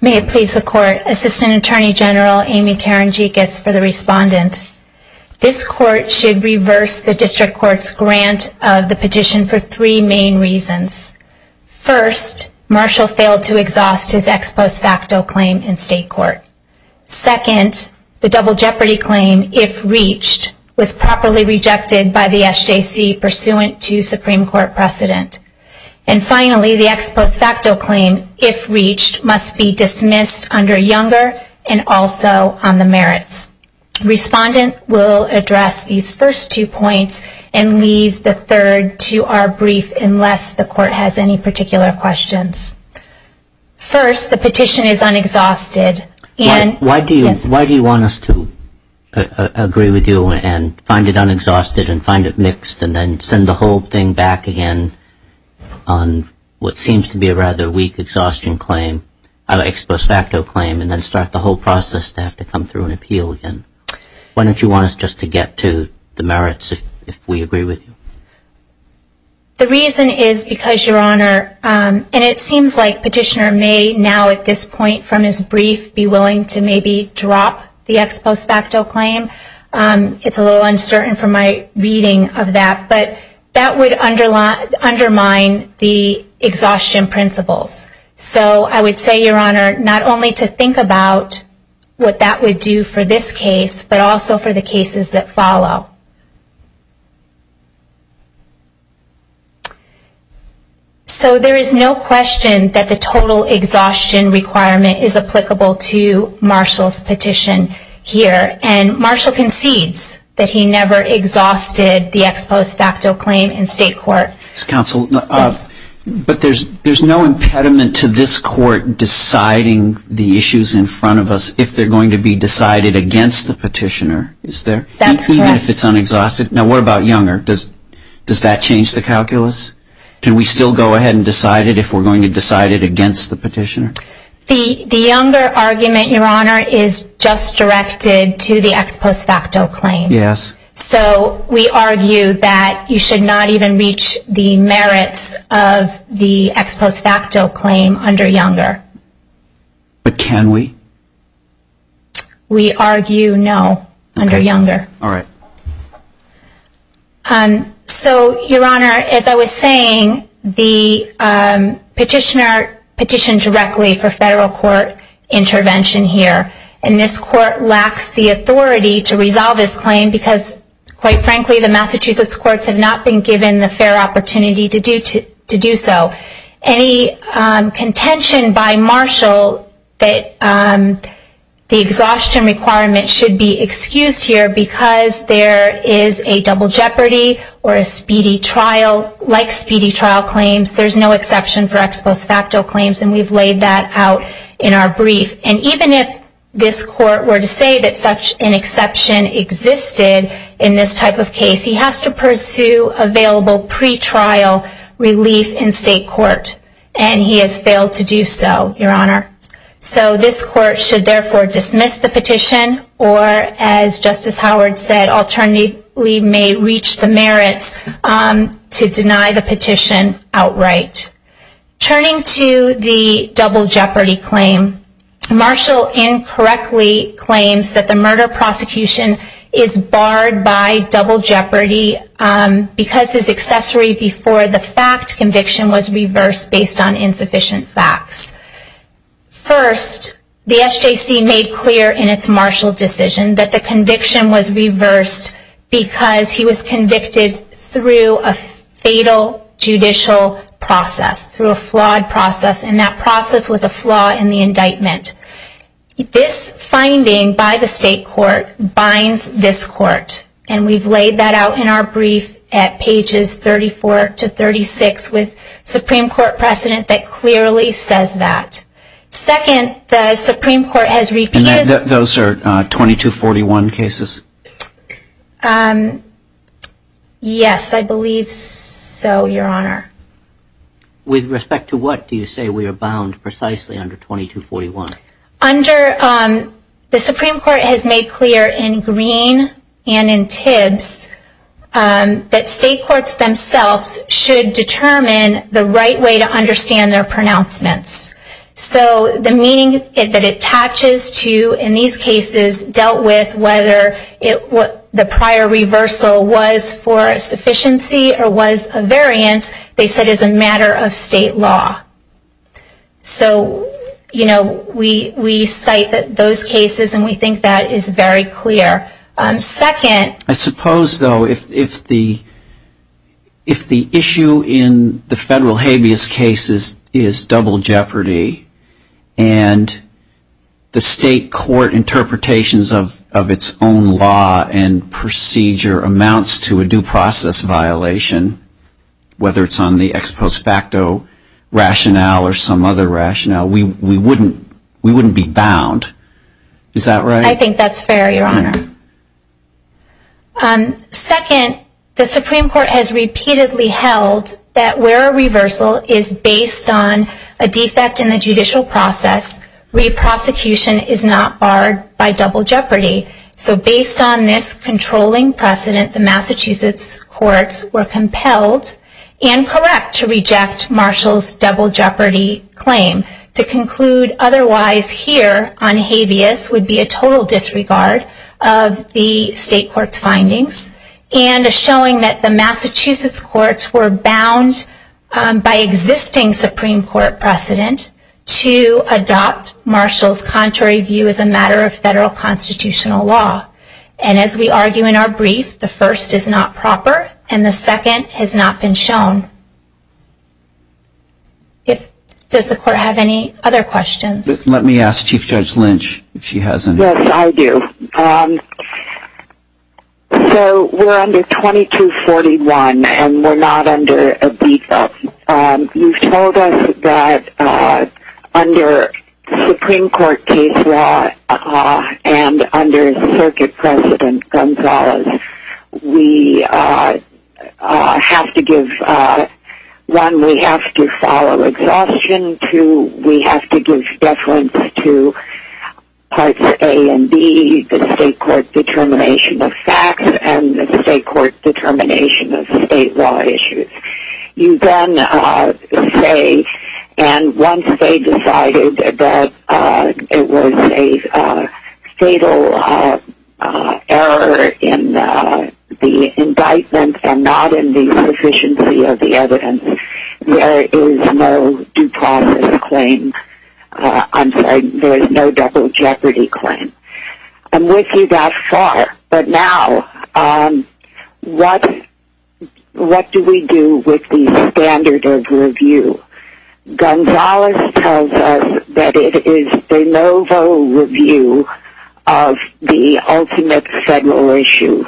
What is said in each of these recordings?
May it please the Court, Assistant Attorney General Amy Karenjikas for the respondent. This Court should reverse the District Court's grant of the petition for three main reasons. First, Marshall failed to exhaust his ex post facto claim in State Court. Second, the double jeopardy claim, if reached, was properly rejected by the SJC pursuant to Supreme Court precedent. And finally, the ex post facto claim, if reached, must be dismissed under Younger and also on the merits. Respondent will address these first two points and leave the third to our brief unless the Court has any particular questions. First, the petition is unexhausted. Why do you want us to agree with you and find it unexhausted and find it mixed and then send the whole thing back again on what seems to be a rather weak exhaustion claim, an ex post facto claim, and then start the whole process to have to come through an appeal again? Why don't you want us just to get to the merits if we agree with you? The reason is because, Your Honor, and it seems like Petitioner may now at this point from his brief be willing to maybe drop the ex post facto claim. It's a little uncertain from my reading of that, but that would undermine the exhaustion principles. So I would say, Your Honor, not only to think about what that would do for this case, but also for the cases that follow. So there is no question that the total exhaustion requirement is applicable to Marshall's petition here. And Marshall concedes that he never exhausted the ex post facto claim in state court. But there's no impediment to this court deciding the issues in front of us if they're going to be decided against the Petitioner, is there? That's correct. Even if it's unexhausted? Now what about Younger? Does that change the calculus? Can we still go ahead and decide it if we're going to decide it against the Petitioner? The Younger argument, Your Honor, is just directed to the ex post facto claim. Yes. So we argue that you should not even reach the merits of the ex post facto claim under Younger. But can we? We argue no under Younger. All right. So, Your Honor, as I was saying, the Petitioner petitioned directly for federal court intervention here. And this court lacks the authority to resolve this claim because, quite frankly, the Massachusetts courts have not been given the fair opportunity to do so. Any contention by Marshall that the exhaustion requirement should be excused here because there is a double jeopardy or a speedy trial. Like speedy trial claims, there's no exception for ex post facto claims. And we've laid that out in our brief. And even if this court were to say that such an exception existed in this type of case, he has to pursue available pretrial relief in state court. And he has failed to do so, Your Honor. So this court should therefore dismiss the petition or, as Justice Howard said, alternately may reach the merits to deny the petition outright. Turning to the double jeopardy claim, Marshall incorrectly claims that the murder prosecution is barred by double jeopardy because his accessory before the fact conviction was reversed based on insufficient facts. First, the SJC made clear in its Marshall decision that the conviction was reversed because he was convicted through a fatal judicial process. Through a flawed process. And that process was a flaw in the indictment. This finding by the state court binds this court. And we've laid that out in our brief at pages 34 to 36 with Supreme Court precedent that clearly says that. Second, the Supreme Court has repeated... And those are 2241 cases? Yes, I believe so, Your Honor. With respect to what do you say we are bound precisely under 2241? Under... The Supreme Court has made clear in Green and in Tibbs that state courts themselves should determine the right way to understand their pronouncements. So the meaning that it attaches to in these cases dealt with whether the prior reversal was for a sufficiency or was a variance. They said it is a matter of state law. So, you know, we cite those cases and we think that is very clear. Second... Suppose, though, if the issue in the federal habeas case is double jeopardy and the state court interpretations of its own law and procedure amounts to a due process violation, whether it's on the ex post facto rationale or some other rationale, we wouldn't be bound. Is that right? Yes, Your Honor. Second, the Supreme Court has repeatedly held that where a reversal is based on a defect in the judicial process, re-prosecution is not barred by double jeopardy. So based on this controlling precedent, the Massachusetts courts were compelled and correct to reject Marshall's double jeopardy claim. To conclude otherwise here on habeas would be a total disregard of the state court's findings and showing that the Massachusetts courts were bound by existing Supreme Court precedent to adopt Marshall's contrary view as a matter of federal constitutional law. And as we argue in our brief, the first is not proper and the second has not been shown. Does the court have any other questions? Let me ask Chief Judge Lynch if she has any. Yes, I do. So we're under 2241 and we're not under a beat up. You've told us that under Supreme Court case law and under Circuit President Gonzalez, we have to give, one, we have to follow exhaustion. Two, we have to give deference to parts A and B, the state court determination of facts and the state court determination of state law issues. You then say, and once they decided that it was a fatal error in the indictment and not in the sufficiency of the evidence, there is no due process claim. I'm sorry, there is no double jeopardy claim. I'm with you that far, but now, what do we do with the standard of review? Gonzalez tells us that it is de novo review of the ultimate federal issue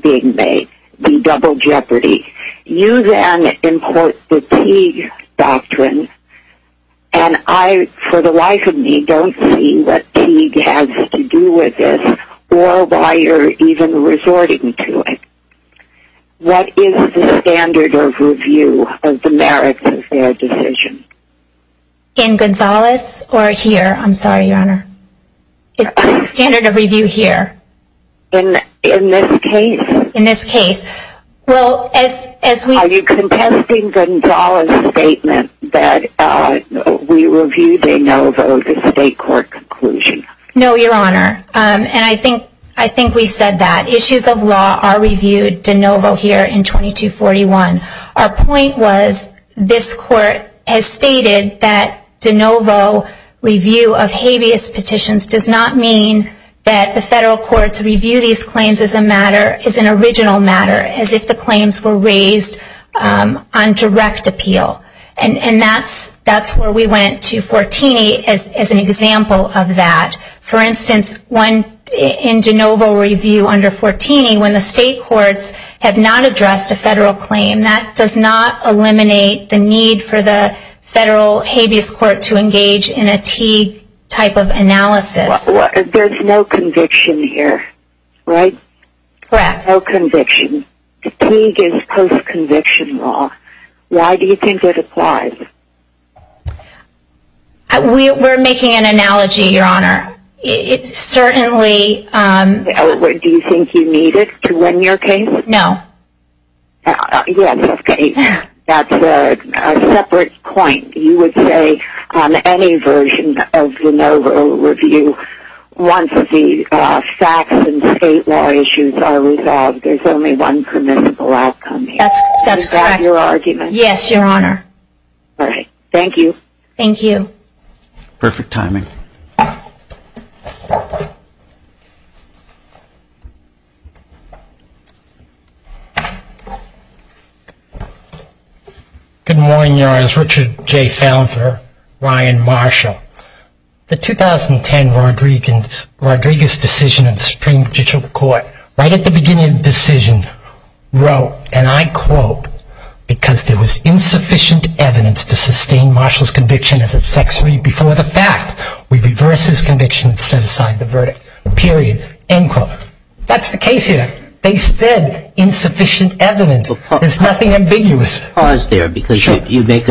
being made, the double jeopardy. You then import the Teague Doctrine and I, for the life of me, don't see what Teague has to do with this or why you're even resorting to it. What is the standard of review of the merits of their decision? In Gonzalez or here? I'm sorry, Your Honor. The standard of review here. In this case? Are you contesting Gonzalez' statement that we reviewed de novo the state court conclusion? No, Your Honor, and I think we said that. Issues of law are reviewed de novo here in 2241. Our point was this Court has stated that de novo review of habeas petitions does not mean that the federal courts review these claims as a matter, as an original matter, as if the claims were raised on direct appeal. And that's where we went to 14E as an example of that. For instance, in de novo review under 14E, when the state courts have not addressed a federal claim, that does not eliminate the need for the federal habeas court to engage in a Teague type of analysis. There's no conviction here, right? Correct. No conviction. Teague is post-conviction law. Why do you think it applies? We're making an analogy, Your Honor. It certainly... Do you think you need it to win your case? No. Yes, okay. That's a separate point. You would say on any version of de novo review, once the facts and state law issues are resolved, there's only one permissible outcome. That's correct. Thank you for your argument. Yes, Your Honor. All right. Thank you. Thank you. Perfect timing. Good morning, Your Honors. Richard J. Fallon for Ryan Marshall. The 2010 Rodriguez decision of the Supreme Judicial Court, right at the beginning of the decision, wrote, and I quote, because there was insufficient evidence to sustain Marshall's conviction as a sex read before the fact. We reverse his conviction and set aside the verdict. Period. End quote. That's the case here. They said insufficient evidence. There's nothing ambiguous. Pause there, because you make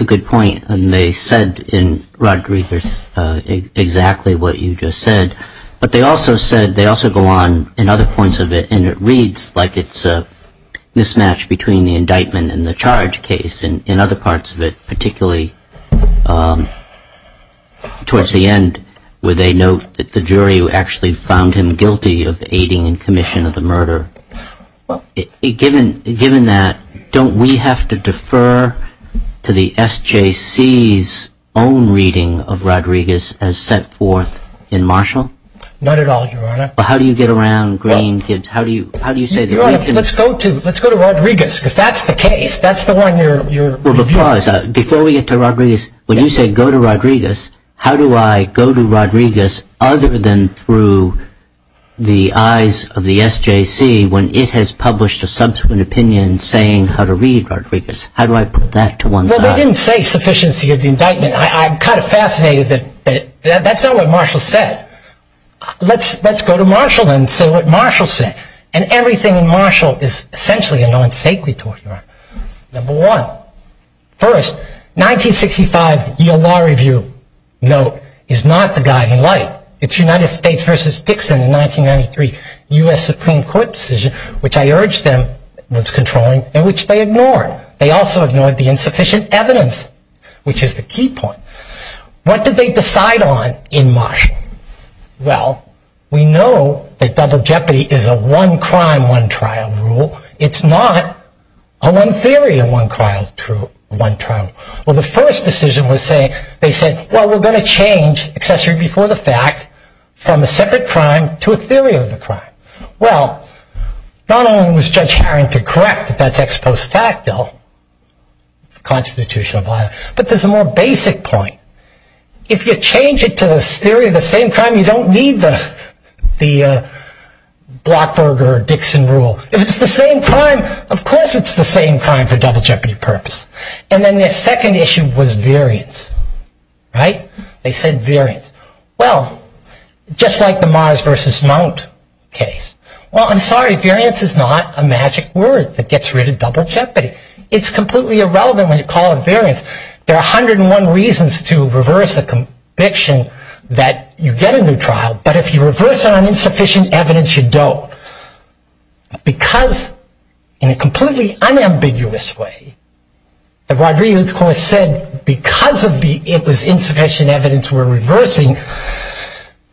a good point. And they said in Rodriguez exactly what you just said. But they also said, they also go on in other points of it, and it reads like it's a mismatch between the indictment and the charge case. And in other parts of it, particularly towards the end, where they note that the jury actually found him guilty of aiding in commission of the murder. Given that, don't we have to defer to the SJC's own reading of Rodriguez as set forth in Marshall? Not at all, Your Honor. Well, how do you get around Green, Gibbs? Your Honor, let's go to Rodriguez, because that's the case. That's the one you're reviewing. Before we get to Rodriguez, when you say go to Rodriguez, how do I go to Rodriguez other than through the eyes of the SJC, when it has published a subsequent opinion saying how to read Rodriguez? How do I put that to one side? Well, they didn't say sufficiency of the indictment. I'm kind of fascinated that that's not what Marshall said. Let's go to Marshall and say what Marshall said. And everything in Marshall is essentially a non sequitur, Your Honor. Number one, first, 1965 Yale Law Review note is not the guiding light. It's United States v. Dixon in 1993 U.S. Supreme Court decision, which I urge them was controlling and which they ignored. They also ignored the insufficient evidence, which is the key point. What did they decide on in Marshall? Well, we know that double jeopardy is a one crime, one trial rule. It's not a one theory and one trial rule. Well, the first decision was saying, they said, well, we're going to change accessory before the fact from a separate crime to a theory of the crime. Well, not only was Judge Harrington correct that that's ex post facto, constitutional violence, but there's a more basic point. If you change it to the theory of the same crime, you don't need the Blockberg or Dixon rule. If it's the same crime, of course it's the same crime for double jeopardy purpose. And then their second issue was variance. They said variance. Well, just like the Mars v. Mount case. Well, I'm sorry, variance is not a magic word that gets rid of double jeopardy. It's completely irrelevant when you call it variance. There are 101 reasons to reverse a conviction that you get a new trial, but if you reverse it on insufficient evidence, you don't. Because, in a completely unambiguous way, the Rodriguez Court said because of the insufficient evidence we're reversing,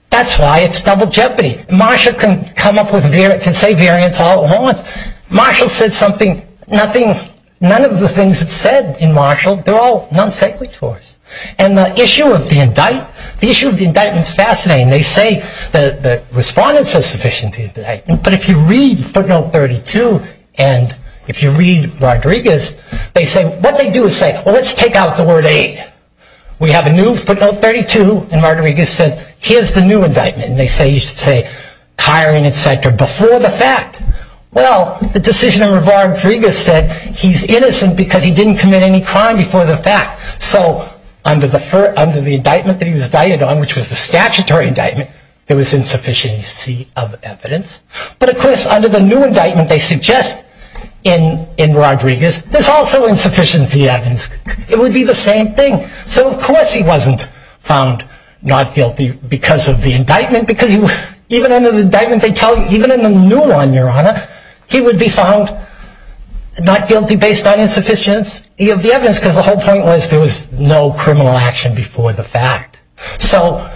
that's why it's double jeopardy. Marshall can come up with, can say variance all at once. Marshall said something, nothing, none of the things it said in Marshall, they're all non sequiturs. And the issue of the indictment, the issue of the indictment is fascinating. They say the respondent says sufficient indictment. But if you read footnote 32, and if you read Rodriguez, they say, what they do is say, well, let's take out the word aid. We have a new footnote 32, and Rodriguez says, here's the new indictment. And they say, you should say, hiring, et cetera, before the fact. Well, the decision of Rodriguez said he's innocent because he didn't commit any crime before the fact. So under the indictment that he was indicted on, which was the statutory indictment, there was insufficiency of evidence. But, of course, under the new indictment they suggest in Rodriguez, there's also insufficiency of evidence. It would be the same thing. So, of course, he wasn't found not guilty because of the indictment. Because even under the indictment they tell you, even in the new one, Your Honor, he would be found not guilty based on insufficiency of the evidence. Because the whole point was there was no criminal action before the fact. So,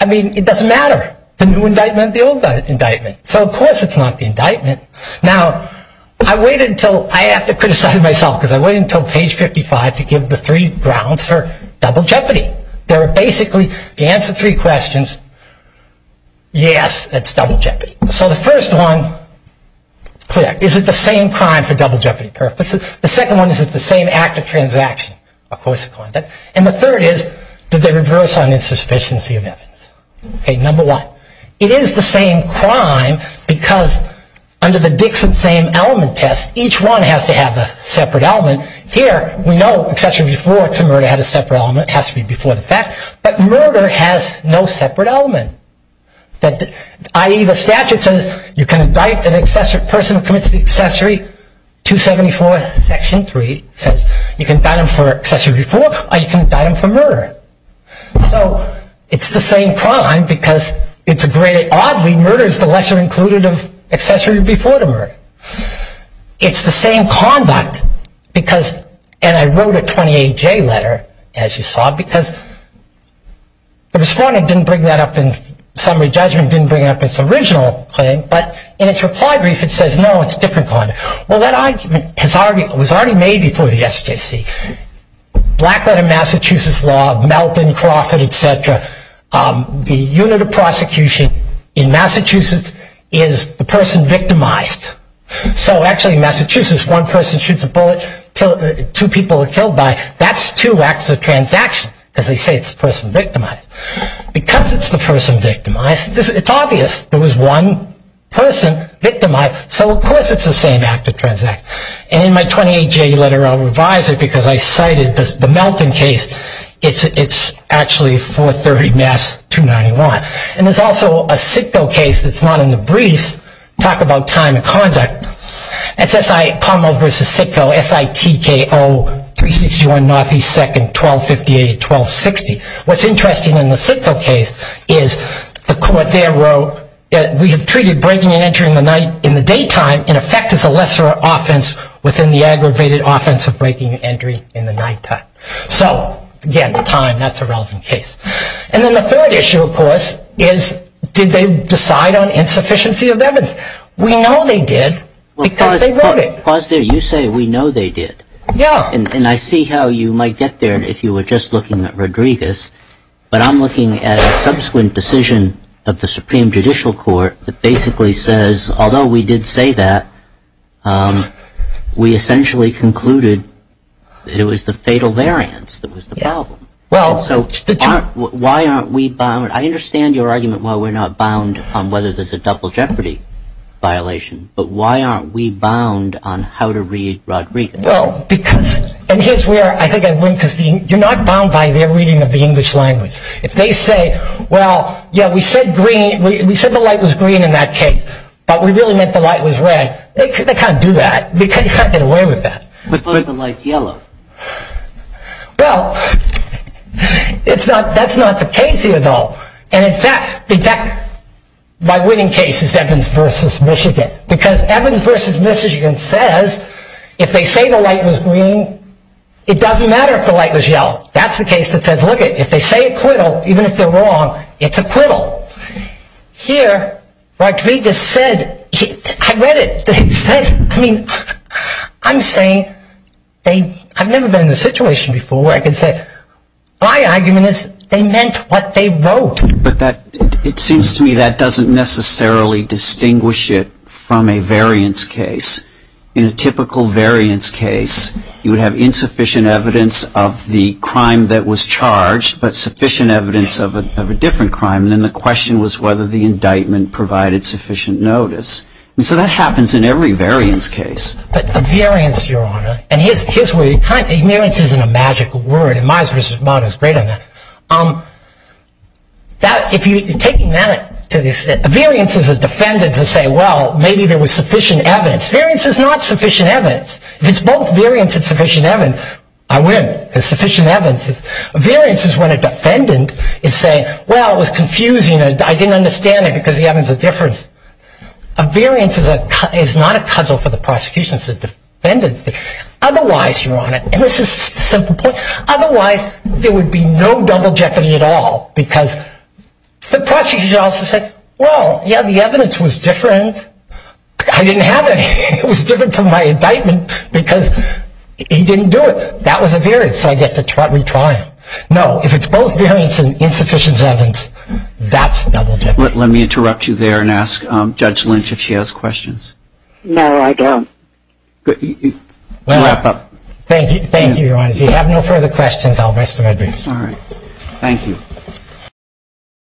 I mean, it doesn't matter. The new indictment, the old indictment. So, of course, it's not the indictment. Now, I waited until, I have to criticize myself, because I waited until page 55 to give the three grounds for double jeopardy. They were basically, if you answer three questions, yes, that's double jeopardy. So the first one, clear. Is it the same crime for double jeopardy purposes? The second one, is it the same act of transaction? And the third is, did they reverse on insufficiency of evidence? Okay, number one. It is the same crime because under the Dixon same element test, each one has to have a separate element. Here, we know accessory before to murder had a separate element. It has to be before the fact. But murder has no separate element. I.e., the statute says you can indict an accessory person who commits the accessory, 274 section 3, says you can indict them for accessory before or you can indict them for murder. So, it's the same crime because it's a great, oddly, murder is the lesser included of accessory before the murder. It's the same conduct because, and I wrote a 28J letter, as you saw, because the respondent didn't bring that up in summary judgment, didn't bring up its original claim, but in its reply brief, it says, no, it's a different crime. Well, that argument was already made before the SJC. Black letter Massachusetts law, Melvin, Crawford, et cetera, the unit of prosecution in Massachusetts is the person victimized. So, actually, in Massachusetts, one person shoots a bullet, two people are killed by it. Because they say it's the person victimized. Because it's the person victimized, it's obvious there was one person victimized. So, of course, it's the same act of transact. And in my 28J letter, I'll revise it because I cited the Melvin case. It's actually 430 Mass 291. And there's also a Sitco case that's not in the briefs, talk about time of conduct. It's Carmel v. Sitco, SITKO 361 Northeast 2nd, 1258-1260. What's interesting in the Sitco case is the court there wrote, we have treated breaking and entering in the daytime, in effect, as a lesser offense within the aggravated offense of breaking and entering in the nighttime. So, again, the time, that's a relevant case. And then the third issue, of course, is did they decide on insufficiency of evidence? We know they did because they wrote it. Pause there. You say we know they did. Yeah. And I see how you might get there if you were just looking at Rodriguez. But I'm looking at a subsequent decision of the Supreme Judicial Court that basically says, although we did say that, we essentially concluded that it was the fatal variance that was the problem. Well, so the Why aren't we bound? I understand your argument why we're not bound on whether there's a double jeopardy violation. But why aren't we bound on how to read Rodriguez? Well, because, and here's where I think I win, because you're not bound by their reading of the English language. If they say, well, yeah, we said green, we said the light was green in that case, but we really meant the light was red, they can't do that. They can't get away with that. But what if the light's yellow? Well, that's not the case here, though. And in fact, my winning case is Evans v. Michigan. Because Evans v. Michigan says if they say the light was green, it doesn't matter if the light was yellow. That's the case that says, look it, if they say acquittal, even if they're wrong, it's acquittal. Here, Rodriguez said, I read it. They said, I mean, I'm saying they, I've never been in a situation before where I can say, my argument is they meant what they wrote. But that, it seems to me that doesn't necessarily distinguish it from a variance case. In a typical variance case, you would have insufficient evidence of the crime that was charged, but sufficient evidence of a different crime. And then the question was whether the indictment provided sufficient notice. And so that happens in every variance case. But a variance, Your Honor, and here's where you kind of, variance isn't a magical word. And Myers v. Vaughn is great on that. If you're taking that to this, a variance is a defendant to say, well, maybe there was sufficient evidence. Variance is not sufficient evidence. If it's both variance and sufficient evidence, I win. Because sufficient evidence is, a variance is when a defendant is saying, well, it was confusing. I didn't understand it because the evidence is different. A variance is not a cudgel for the prosecution, it's a defendant's thing. Otherwise, Your Honor, and this is the simple point, otherwise there would be no double jeopardy at all. Because the prosecution also said, well, yeah, the evidence was different. I didn't have it. It was different from my indictment because he didn't do it. That was a variance, so I get to retry him. No, if it's both variance and insufficient evidence, that's double jeopardy. Let me interrupt you there and ask Judge Lynch if she has questions. No, I don't. Wrap up. Thank you, Your Honor. If you have no further questions, I'll rest my case. All right. Thank you.